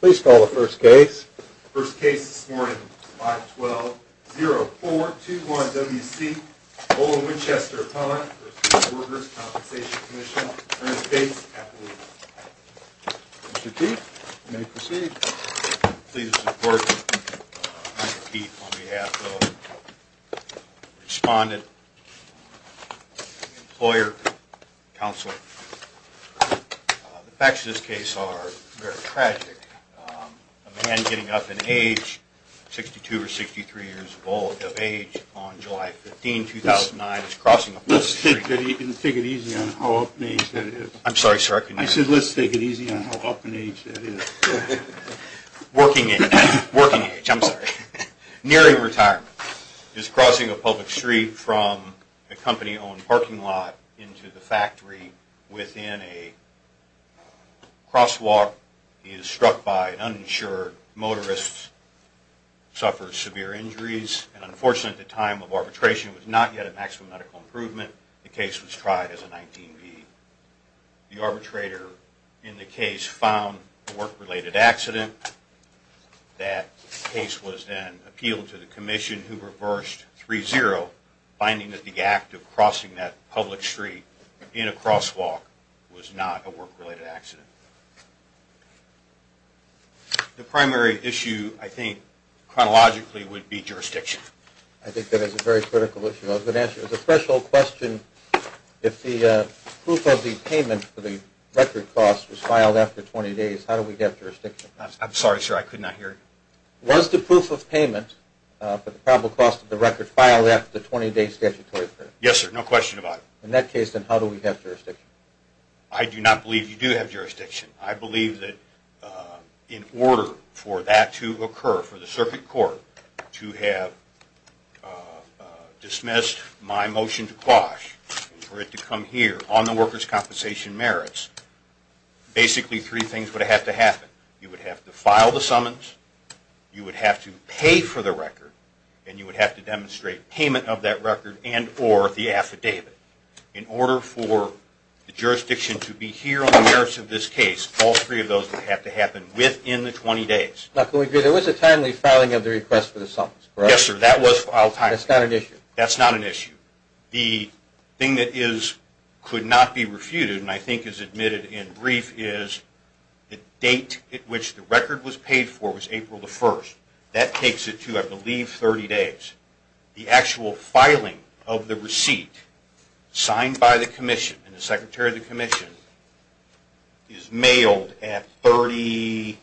Please call the first case. The first case this morning, 512-0421-WC, Ola Winchester v. Workers' Compensation Comm'n, Earnest Gates, Appalachia. Mr. Keith, you may proceed. Please support Mr. Keith on behalf of Respondent Employer Council. The facts of this case are very tragic. A man getting up in age, 62 or 63 years of age, on July 15, 2009, is crossing a public street. Let's take it easy on how up in age that is. I'm sorry, sir. I said let's take it easy on how up in age that is. Working age, I'm sorry. Nearing retirement, is crossing a public street from a company-owned parking lot into the factory within a crosswalk. He is struck by an uninsured motorist, suffers severe injuries. And unfortunately, at the time of arbitration, was not yet a maximum medical improvement. The case was tried as a 19B. The arbitrator in the case found a work-related accident. That case was then appealed to the commission, who reversed 3-0, finding that the act of crossing that public street in a crosswalk was not a work-related accident. The primary issue, I think, chronologically would be jurisdiction. I think that is a very critical issue. As a threshold question, if the proof of the payment for the record costs was filed after 20 days, how do we get jurisdiction? I'm sorry, sir. I could not hear you. Was the proof of payment for the probable cost of the record filed after the 20-day statutory period? Yes, sir. No question about it. In that case, then, how do we get jurisdiction? I do not believe you do have jurisdiction. I believe that in order for that to occur, for the circuit court to have dismissed my motion to quash, for it to come here on the workers' compensation merits, basically three things would have to happen. You would have to file the summons, you would have to pay for the record, and you would have to demonstrate payment of that record and or the affidavit. In order for the jurisdiction to be here on the merits of this case, all three of those would have to happen within the 20 days. Now, could we agree there was a timely filing of the request for the summons, correct? Yes, sir. That was filed timely. That's not an issue. That's not an issue. The thing that could not be refuted, and I think is admitted in brief, is the date at which the record was paid for was April the 1st. That takes it to, I believe, 30 days. The actual filing of the receipt, signed by the commission and the secretary of the commission, is mailed at 30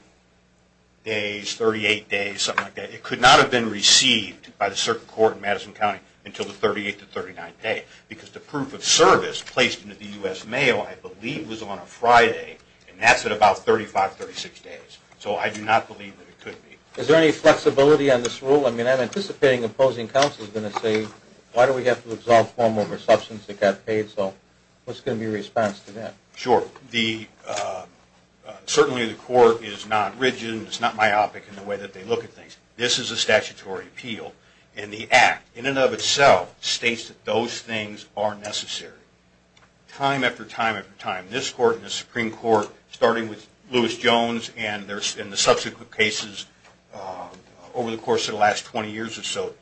days, 38 days, something like that. It could not have been received by the circuit court in Madison County until the 38th or 39th day, because the proof of service placed into the US mail, I believe, was on a Friday. And that's at about 35, 36 days. So I do not believe that it could be. Is there any flexibility on this rule? I mean, I'm anticipating opposing counsel is going to say, why do we have to exalt form over substance that got paid? So what's going to be your response to that? Sure. Certainly, the court is not rigid, and it's not myopic in the way that they look at things. This is a statutory appeal. And the act, in and of itself, states that those things are necessary. Time after time after time, this court and the Supreme Court, starting with Lewis Jones and the subsequent cases over the course of the last 20 years or so,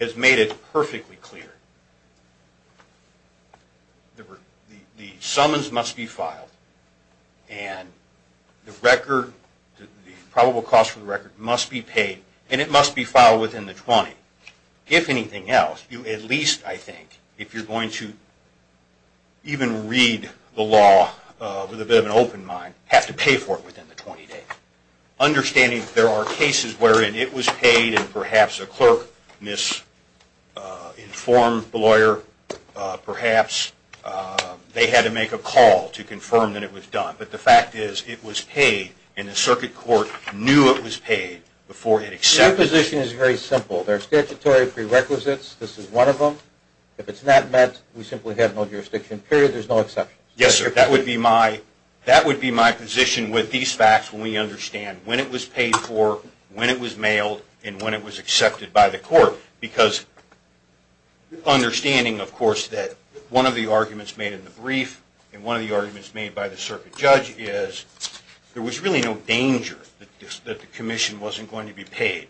has made it perfectly clear. The summons must be filed. And the probable cost for the record must be paid, and it must be filed within the 20. If anything else, you at least, I think, if you're going to even read the law with a bit of an open mind, have to pay for it within the 20 days. Understanding there are cases wherein it was paid, and perhaps a clerk misinformed the lawyer, perhaps they had to make a call to confirm that it was done. But the fact is, it was paid, and the circuit court knew it was paid before it accepted it. Your position is very simple. There are statutory prerequisites. This is one of them. If it's not met, we simply have no jurisdiction, period. There's no exceptions. Yes, sir. That would be my position with these facts when we understand when it was paid for, when it was mailed, and when it was accepted by the court. Because understanding, of course, that one of the arguments made in the brief, and one of the arguments made by the circuit judge is there was really no danger that the commission wasn't going to be paid.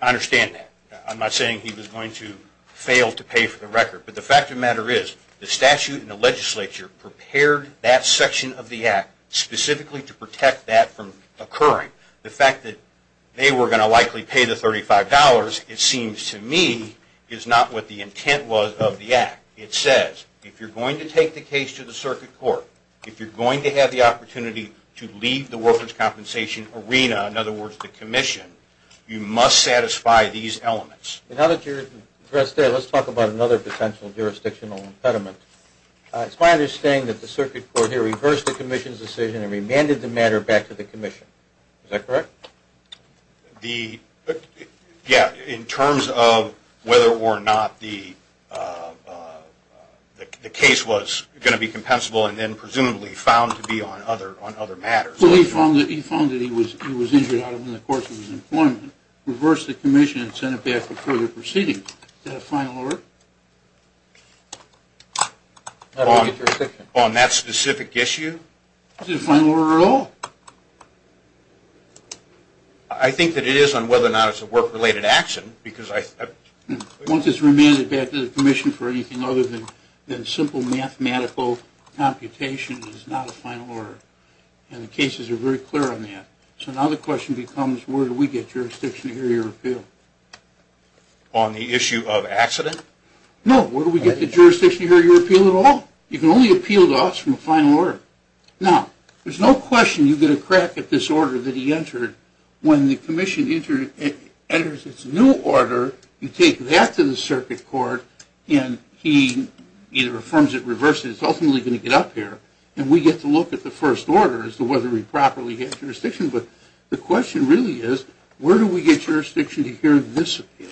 I understand that. I'm not saying he was going to fail to pay for the record. But the fact of the matter is, the statute and the legislature prepared that section of the act specifically to protect that from occurring. The fact that they were going to likely pay the $35, it seems to me, is not what the intent was of the act. It says, if you're going to take the case to the circuit court, if you're going to have the opportunity to leave the workers' compensation arena, in other words, the commission, you must satisfy these elements. Now that you're addressed there, let's talk about another potential jurisdictional impediment. It's my understanding that the circuit court here reversed the commission's decision and remanded the matter back to the commission. Is that correct? Yeah, in terms of whether or not the case was going to be compensable and then, presumably, found to be on other matters. Well, he found that he was injured out of him in the course of his employment, reversed the commission, and sent it back for further proceedings. Is that a final order? On that specific issue? Is it a final order at all? I think that it is on whether or not it's a work-related action, because I think that's Once it's remanded back to the commission for anything other than simple mathematical computation, it's not a final order. And the cases are very clear on that. So now the question becomes, where do we get jurisdiction to hear your appeal? On the issue of accident? No. Where do we get the jurisdiction to hear your appeal at all? You can only appeal to us from a final order. Now, there's no question you get a crack at this order that he entered. When the commission enters its new order, you take that to the circuit court, and he either affirms it or reverses it. It's ultimately going to get up here. And we get to look at the first order as to whether we properly get jurisdiction. But the question really is, where do we get jurisdiction to hear this appeal?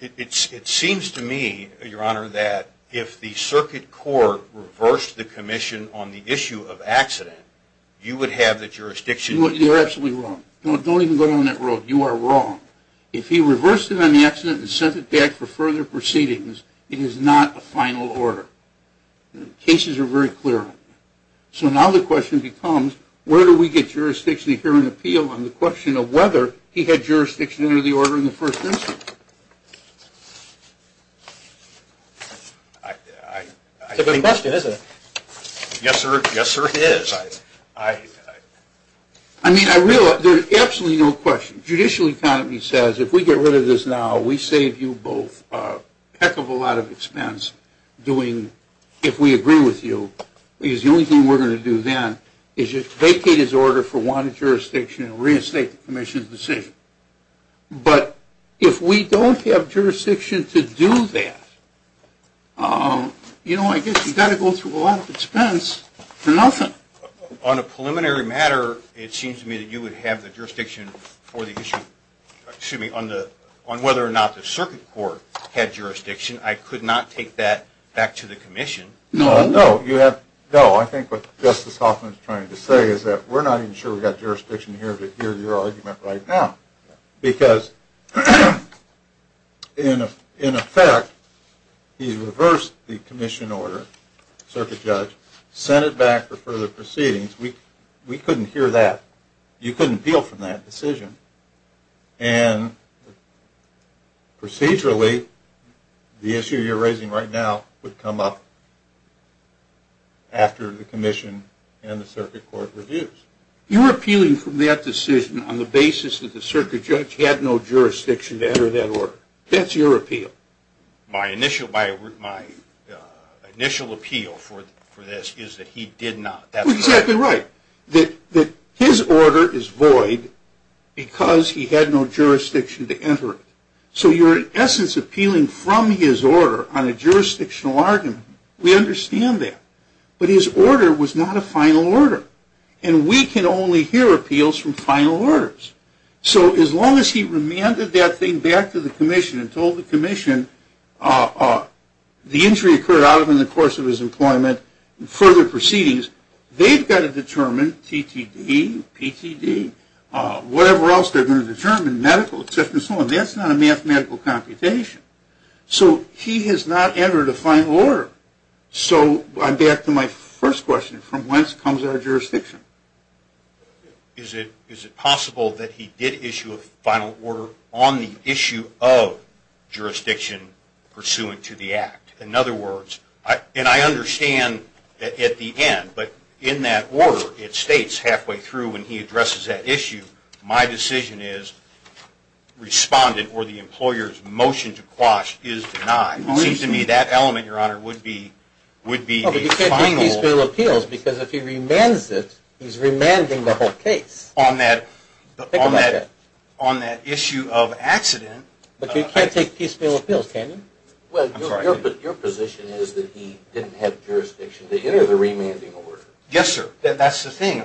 It seems to me, Your Honor, that if the circuit court reversed the commission on the issue of accident, you would have the jurisdiction. You're absolutely wrong. Don't even go down that road. You are wrong. If he reversed it on the accident and sent it back for further proceedings, it is not a final order. Cases are very clear on that. So now the question becomes, where do we get jurisdiction to hear an appeal on the question of whether he had jurisdiction to enter the order in the first instance? It's a good question, isn't it? Yes, sir. Yes, sir, it is. There's absolutely no question. Judicial economy says, if we get rid of this now, we save you both a heck of a lot of expense if we agree with you. Because the only thing we're going to do then is just vacate his order for wanted jurisdiction and reinstate the commission's decision. But if we don't have jurisdiction to do that, I guess you've got to go through a lot of expense for nothing. On a preliminary matter, it seems to me that you would have the jurisdiction on whether or not the circuit court had jurisdiction. I could not take that back to the commission. No, no. I think what Justice Hoffman is trying to say is that we're not even sure we've got jurisdiction here to hear your argument right now. Because in effect, he reversed the commission order, circuit judge, sent it back for further proceedings. We couldn't hear that. You couldn't appeal from that decision. And procedurally, the issue you're raising right now would come up after the commission and the circuit court reviews. You're appealing from that decision on the basis that the circuit judge had no jurisdiction to enter that order. That's your appeal. My initial appeal for this is that he did not. Exactly right. That his order is void because he had no jurisdiction to enter it. So you're in essence appealing from his order on a jurisdictional argument. We understand that. But his order was not a final order. And we can only hear appeals from final orders. So as long as he remanded that thing back to the commission and told the commission the injury occurred out in the course of his employment and further proceedings, they've got to determine TTD, PTD, whatever else they're going to determine, medical, et cetera and so on. That's not a mathematical computation. So he has not entered a final order. So I'm back to my first question. From whence comes our jurisdiction? Is it possible that he did issue a final order on the issue of jurisdiction pursuant to the act? In other words, and I understand at the end, but in that order, it states halfway through when he addresses that issue, my decision is respondent or the employer's motion to quash is denied. It seems to me that element, Your Honor, would be a final. But you can't take piecemeal appeals because if he remands it, he's remanding the whole case. On that issue of accident. But you can't take piecemeal appeals, can you? Well, your position is that he didn't have jurisdiction to enter the remanding order. Yes, sir. That's the thing.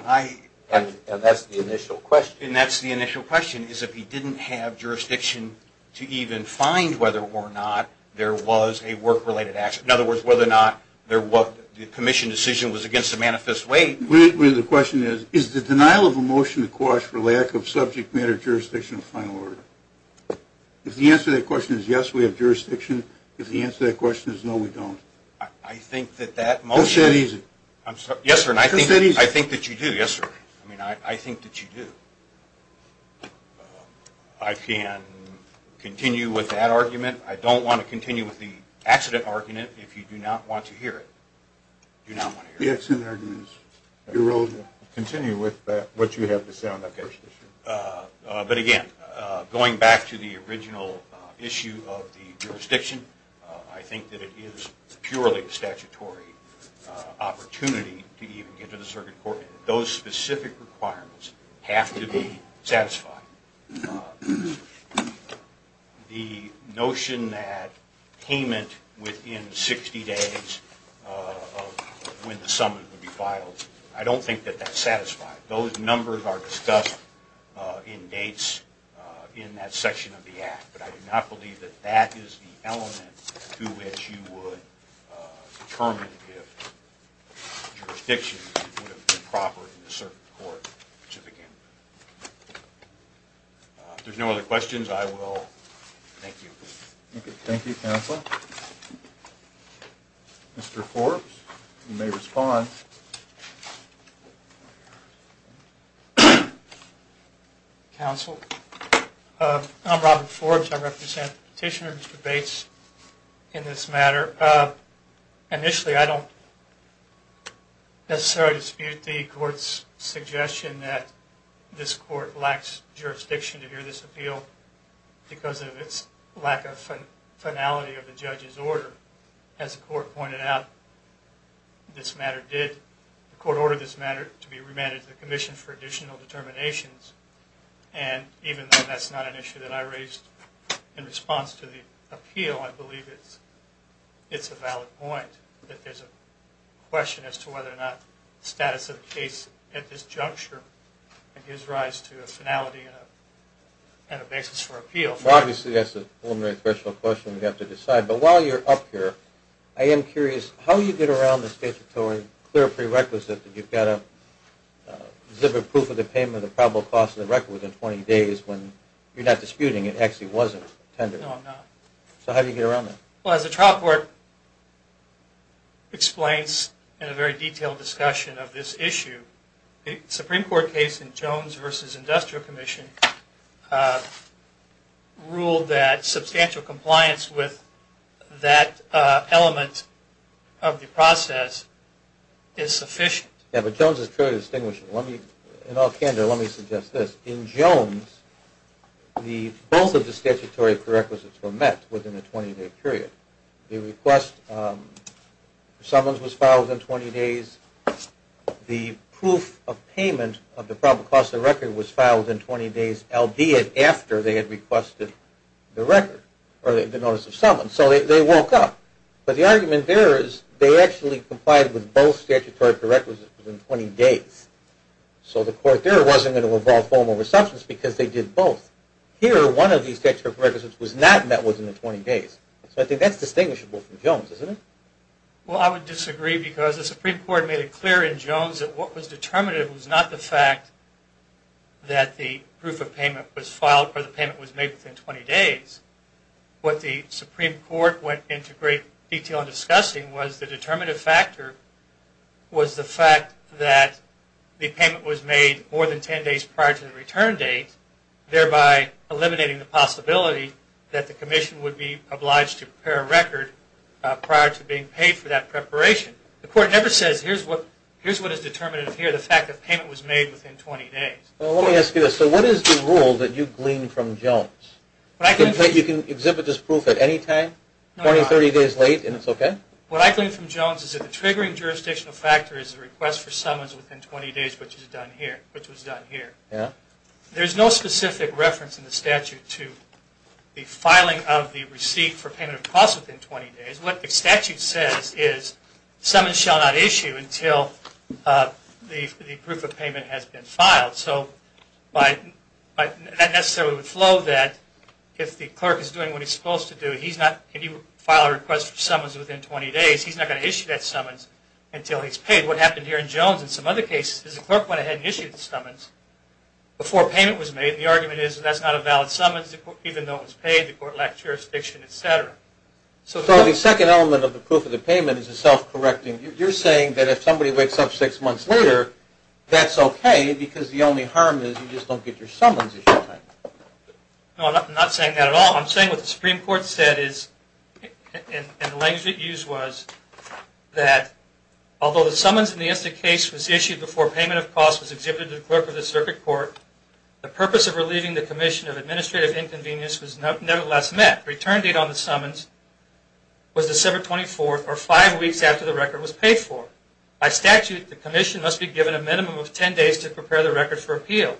And that's the initial question. And that's the initial question, is if he didn't have jurisdiction to even find whether or not there was a work-related accident. In other words, whether or not the commission decision was against a manifest way. The question is, is the denial of a motion to quash for lack of subject matter jurisdiction a final order? If the answer to that question is yes, we have jurisdiction, if the answer to that question is no, we don't. I think that that motion. Go ahead and ease it. Yes, sir. I think that you do. Yes, sir. I mean, I think that you do. I can continue with that argument. I don't want to continue with the accident argument if you do not want to hear it. Do not want to hear it. The accident argument is eroded. Continue with what you have to say on that first issue. But again, going back to the original issue of the jurisdiction, I think that it is purely a statutory opportunity to even get to the circuit court. Those specific requirements have to be satisfied. The notion that payment within 60 days of when the summons would be filed, I don't think that that's satisfied. Those numbers are discussed in dates in that section of the act. But I do not believe that that is the element to which you would determine if jurisdiction would have been proper in the circuit court to begin with. If there's no other questions, I will thank you. Thank you, counsel. Mr. Forbes, you may respond. Thank you, counsel. I'm Robert Forbes. I represent petitioner debates in this matter. Initially, I don't necessarily dispute the court's suggestion that this court lacks jurisdiction to hear this appeal because of its lack of finality of the judge's order. As the court pointed out, this matter did. The court ordered this matter to be remanded to the commission for additional determinations. And even though that's not an issue that I raised in response to the appeal, I believe it's a valid point that there's a question as to whether or not the status of the case at this juncture gives rise to a finality and a basis for appeal. Well, obviously, that's a preliminary question we have to decide. But while you're up here, I am curious, how do you get around the statutory clear prerequisite that you've got to zip a proof of the payment of probable cost of the record within 20 days when you're not disputing it actually wasn't tendered? No, I'm not. So how do you get around that? Well, as the trial court explains in a very detailed discussion of this issue, the Supreme Court case in Jones versus Industrial Commission ruled that substantial compliance with that element of the process is sufficient. Yeah, but Jones is clearly distinguishing. In all candor, let me suggest this. In Jones, both of the statutory prerequisites were met within a 20-day period. The request for summons was filed within 20 days. The proof of payment of the probable cost of the record was filed within 20 days, albeit after they had requested the record or the notice of summons. So they woke up. But the argument there is they actually complied with both statutory prerequisites within 20 days. So the court there wasn't going to involve foam over substance because they did both. Here, one of these statutory prerequisites was not met within the 20 days. So I think that's distinguishable from Jones, isn't it? Well, I would disagree because the Supreme Court made it clear in Jones that what was determinative was not the fact that the proof of payment was filed or the payment was made within 20 days. What the Supreme Court went into great detail in discussing was the determinative factor was the fact that the payment was made more than 10 days prior to the return date, thereby eliminating the possibility that the commission would be obliged to prepare a record prior to being paid for that preparation. The court never says, here's what is determinative here, the fact that payment was made within 20 days. Well, let me ask you this. So what is the rule that you gleaned from Jones? You can exhibit this proof at any time, 20, 30 days late, and it's OK? What I gleaned from Jones is that the triggering jurisdictional factor is the request for summons within 20 days, which was done here. There's no specific reference in the statute to the filing of the receipt for payment of cost within 20 days. What the statute says is summons shall not issue until the proof of payment has been filed. So that necessarily would flow that if the clerk is doing what he's supposed to do, he's not going to file a request for summons within 20 days. He's not going to issue that summons until he's paid. What happened here in Jones and some other cases is the clerk went ahead and issued the summons before payment was made. The argument is that's not a valid summons, even though it was paid, the court lacked jurisdiction, et cetera. So the second element of the proof of the payment is the self-correcting. You're saying that if somebody wakes up six months later, that's OK, because the only harm is you just don't get your summons issued. No, I'm not saying that at all. I'm saying what the Supreme Court said is, and the language it used was, that although the summons in the insta-case was issued before payment of cost was exhibited to the clerk of the circuit court, the purpose of relieving the commission of administrative inconvenience was nevertheless met. The return date on the summons was December 24, or five weeks after the record was paid for. By statute, the commission must be given a minimum of 10 days to prepare the record for appeal.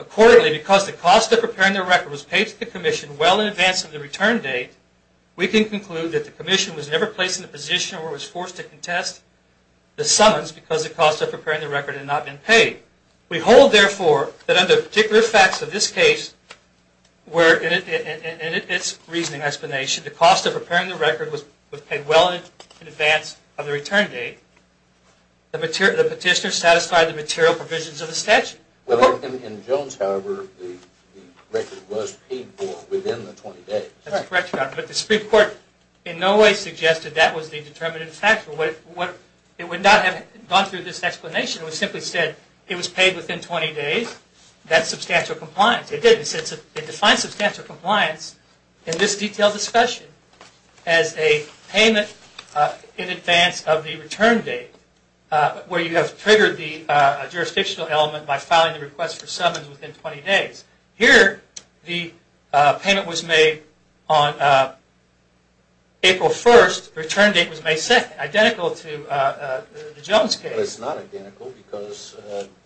Accordingly, because the cost of preparing the record was paid to the commission well in advance of the return date, we can conclude that the commission was never placed in the position where it was forced to contest the summons because the cost of preparing the record had not been paid. We hold, therefore, that under particular facts of this case, where in its reasoning explanation, the cost of preparing the record was paid well in advance of the return date, the petitioner satisfied the material provisions of the statute. Well, in Jones, however, the record was paid for within the 20 days. That's correct, Your Honor. But the Supreme Court in no way suggested that was the determinative factor. It would not have gone through this explanation. It would have simply said, it was paid within 20 days. That's substantial compliance. It defines substantial compliance in this detailed discussion as a payment in advance of the return date, where you have triggered the jurisdictional element by filing the request for summons within 20 days. Here, the payment was made on April 1st. Return date was May 2nd, identical to the Jones case. Well, it's not identical because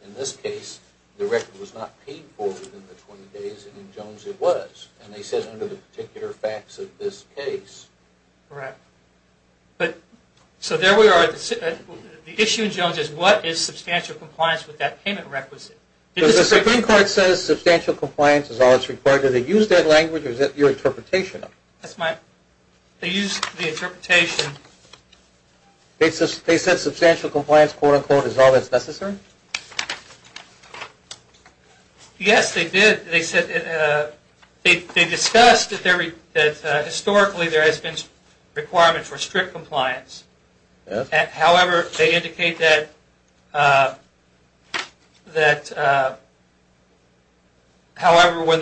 in this case, the record was not paid for within the 20 days. And in Jones, it was. And they said under the particular facts of this case. Correct. So there we are. The issue in Jones is, what is substantial compliance with that payment requisite? The Supreme Court says substantial compliance is all that's required. Did they use that language? Or is that your interpretation? They used the interpretation. They said substantial compliance, quote unquote, is all that's necessary? Yes, they did. They said, they discussed that historically, there has been a requirement for strict compliance. However, they indicate that, however, when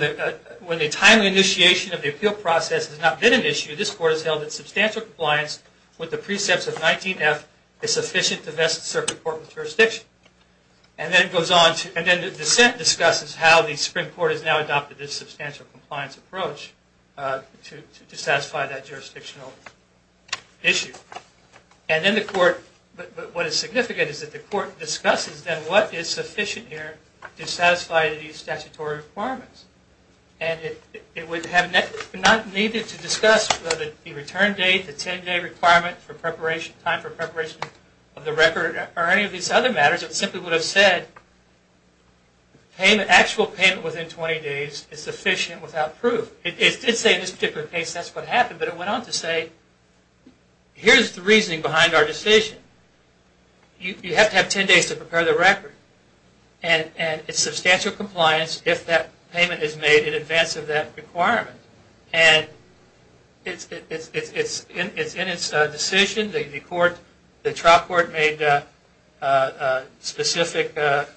the timely initiation of the appeal process has not been an issue, this Court has held that substantial compliance with the precepts of 19F is sufficient to best serve the Court with jurisdiction. And then it goes on to, and then the dissent discusses how the Supreme Court has now adopted this substantial compliance approach to satisfy that jurisdictional issue. And then the Court, what is significant is that the Court discusses then what is sufficient here to satisfy these statutory requirements. And it would have not needed to discuss whether the return date, the 10-day requirement for preparation, time for preparation of the record, or any of these other matters. It simply would have said, actual payment within 20 days is sufficient without proof. It did say in this particular case that's what happened. But it went on to say, here's the reasoning behind our decision. You have to have 10 days to prepare the record. And it's substantial compliance if that payment is made in advance of that requirement. And it's in its decision. The trial court made a specific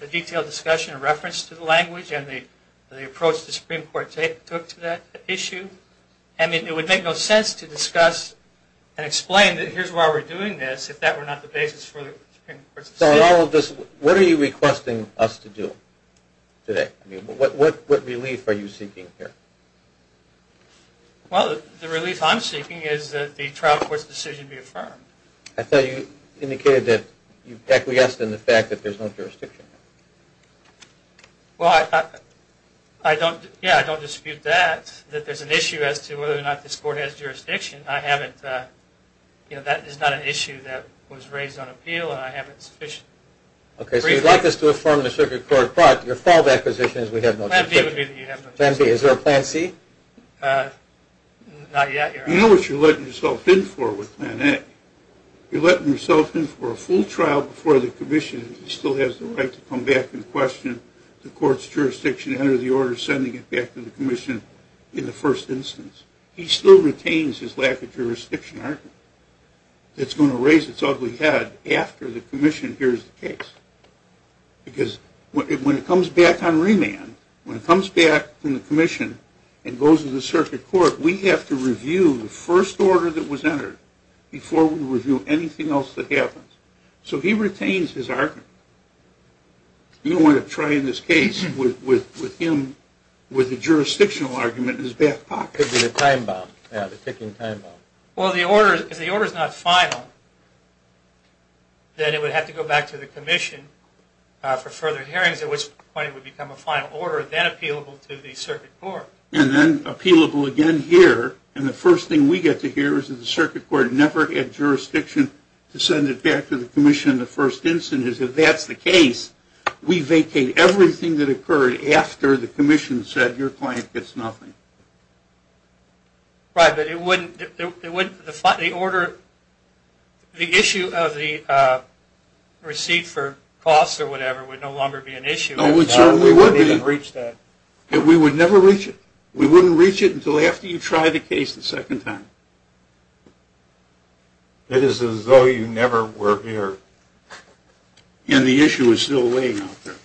detailed discussion in reference to the language and the approach the Supreme Court took to that issue. And it would make no sense to discuss and explain that here's why we're doing this if that were not the basis for the Supreme Court's decision. So in all of this, what are you requesting us to do today? What relief are you seeking here? Well, the relief I'm seeking is that the trial court's decision be affirmed. I thought you indicated that you've acquiesced in the fact that there's no jurisdiction. Well, I don't dispute that, that there's an issue as to whether or not this court has jurisdiction. That is not an issue that was raised on appeal. And I haven't sufficiently briefed on it. OK, so you'd like us to affirm the circuit court, but your fallback position is we have no jurisdiction. Plan B would be that you have no jurisdiction. Plan B. Is there a plan C? Not yet, Your Honor. I know what you're letting yourself in for with plan A. You're letting yourself in for a full trial before the commission still has the right to come back and question the court's jurisdiction under the order sending it back to the commission in the first instance. He still retains his lack of jurisdiction argument. It's going to raise its ugly head after the commission hears the case. Because when it comes back on remand, when it comes back from the commission and goes to the circuit court, we have to review the first order that was entered before we review anything else that happens. So he retains his argument. You don't want to try in this case with him with a jurisdictional argument in his back pocket. Could be the time bomb, yeah, the ticking time bomb. Well, if the order's not final, then it would have to go back to the commission for further hearings, at which point it would become a final order, then appealable to the circuit court. And then appealable again here, and the first thing we get to hear is that the circuit court never had jurisdiction to send it back to the commission in the first instance. If that's the case, we vacate everything that occurred after the commission said your client gets nothing. Right, but it wouldn't define the order. The issue of the receipt for costs or whatever would no longer be an issue. Oh, it certainly would be. We wouldn't even reach that. We would never reach it. We wouldn't reach it until after you try the case the second time. It is as though you never were here, and the issue is still laying out there.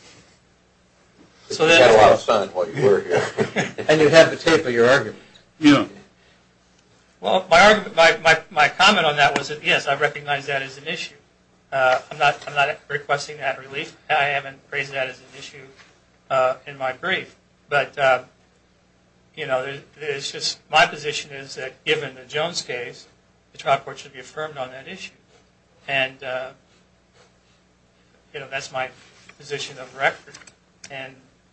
So that's what I was saying, what you were here. And you had the tape of your argument. Well, my comment on that was that, yes, I recognize that as an issue. I'm not requesting that relief. I haven't raised that as an issue in my brief. But my position is that, given the Jones case, the trial court should be affirmed on that issue. And that's my position of record.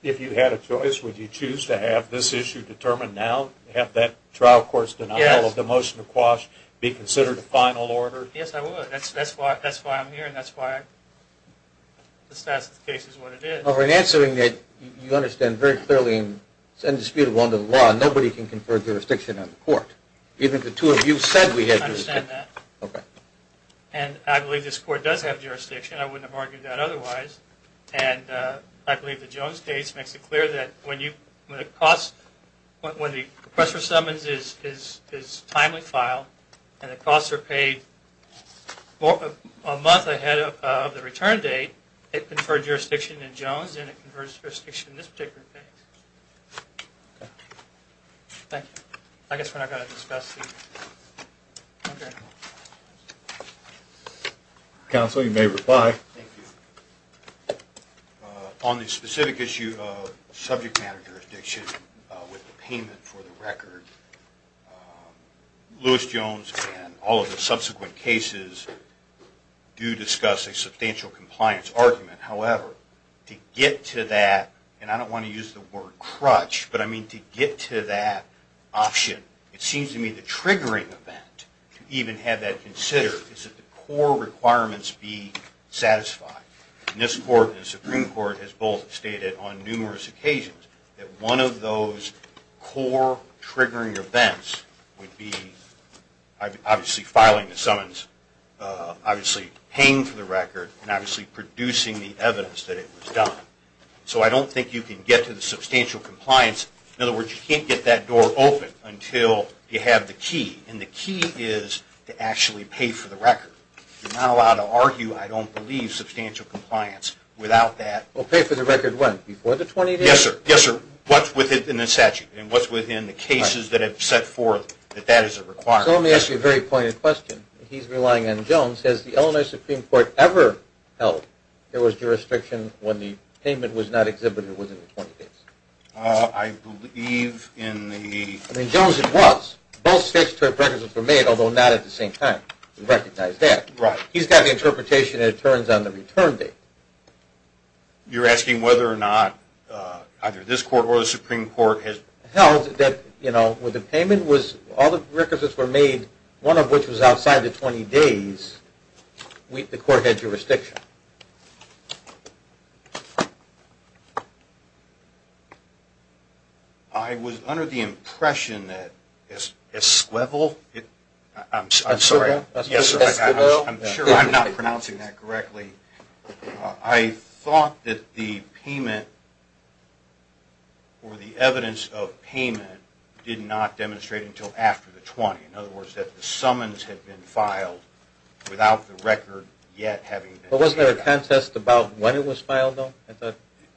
If you had a choice, would you choose to have this issue determined now, have that trial court's denial of the motion to quash be considered a final order? Yes, I would. That's why I'm here, and that's why the status of the case is what it is. Well, in answering that, you understand very clearly it's indisputable under the law. Nobody can confer jurisdiction on the court, even if the two of you said we had jurisdiction. I understand that. And I believe this court does have jurisdiction. I wouldn't have argued that otherwise. And I believe the Jones case makes it clear that when the request for summons is timely filed, and the costs are paid a month ahead of the return date, it conferred jurisdiction in Jones, and it conferred jurisdiction in this particular case. I guess we're not going to discuss the other one. Counsel, you may reply. Thank you. On the specific issue of subject matter jurisdiction with the payment for the record, Lewis Jones and all of the subsequent cases do discuss a substantial compliance argument. However, to get to that, and I don't want to use the word crutch, but I mean to get to that option, it seems to me the triggering event to even have that considered is that the core requirements be satisfied. And this court and the Supreme Court has both stated on numerous occasions that one of those core triggering events would be obviously filing the summons, obviously paying for the record, and obviously producing the evidence that it was done. So I don't think you can get to the substantial compliance. In other words, you can't get that door open until you have the key. And the key is to actually pay for the record. You're not allowed to argue, I don't believe, substantial compliance without that. Well, pay for the record when? Before the 28th? Yes, sir. Yes, sir. What's within the statute? And what's within the cases that have set forth that that is a requirement? So let me ask you a very pointed question. He's relying on Jones. Has the Illinois Supreme Court ever held there was jurisdiction when the payment was not exhibited within the 20 days? I believe in the- In Jones it was. Both statutory preferences were made, although not at the same time. We recognize that. He's got the interpretation and it turns on the return date. You're asking whether or not either this court or the Supreme Court has held that when the payment was, all the requisites were made, one of which was outside the 20 days, the court had jurisdiction. I was under the impression that Esquivel, I'm sorry. Esquivel? Yes, sir. Esquivel? I'm not pronouncing that correctly. I thought that the payment, or the evidence of payment, did not demonstrate until after the 20. In other words, that the summons had been filed without the record yet having been made. But wasn't there a contest about when it was filed, though?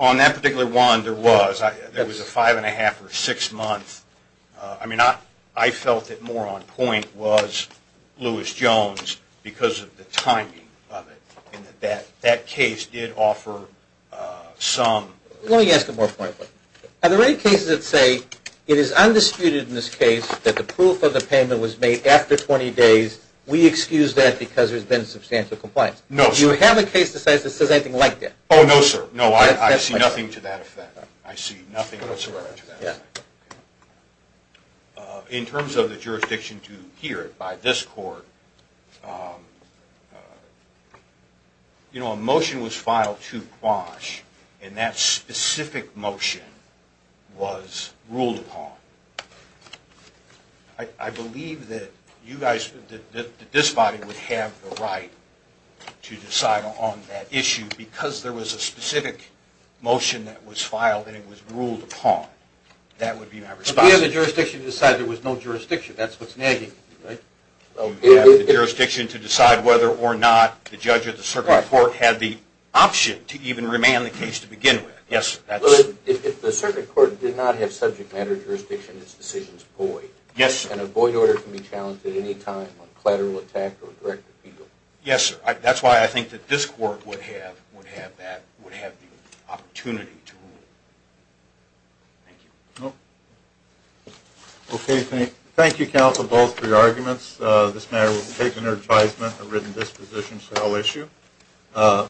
On that particular one, there was. There was a five and a half or six months. I mean, I felt that more on point was Lewis-Jones because of the timing of it. That case did offer some. Let me ask a more point. Are there any cases that say, it is undisputed in this case that the proof of the payment was made after 20 days. We excuse that because there's been substantial compliance. No, sir. Do you have a case that says anything like that? No, sir. No, I see nothing to that effect. I see nothing to that effect. In terms of the jurisdiction to hear it by this court, a motion was filed to Quash. And that specific motion was ruled upon. I believe that this body would have the right to decide on that issue because there was a specific motion that was filed and it was ruled upon. That would be my response. But we have the jurisdiction to decide there was no jurisdiction. That's what's nagging you, right? Well, we have the jurisdiction to decide whether or not the judge or the circuit court had the option to even remand the case to begin with. Yes, sir. If the circuit court did not have subject matter jurisdiction, its decision is void. Yes, sir. And a void order can be challenged at any time on collateral attack or direct appeal. Yes, sir. That's why I think that this court would have that, would have the opportunity to rule. Thank you. OK, thank you, counsel, both for your arguments. This matter was taken under advisement and written disposition, so I'll issue.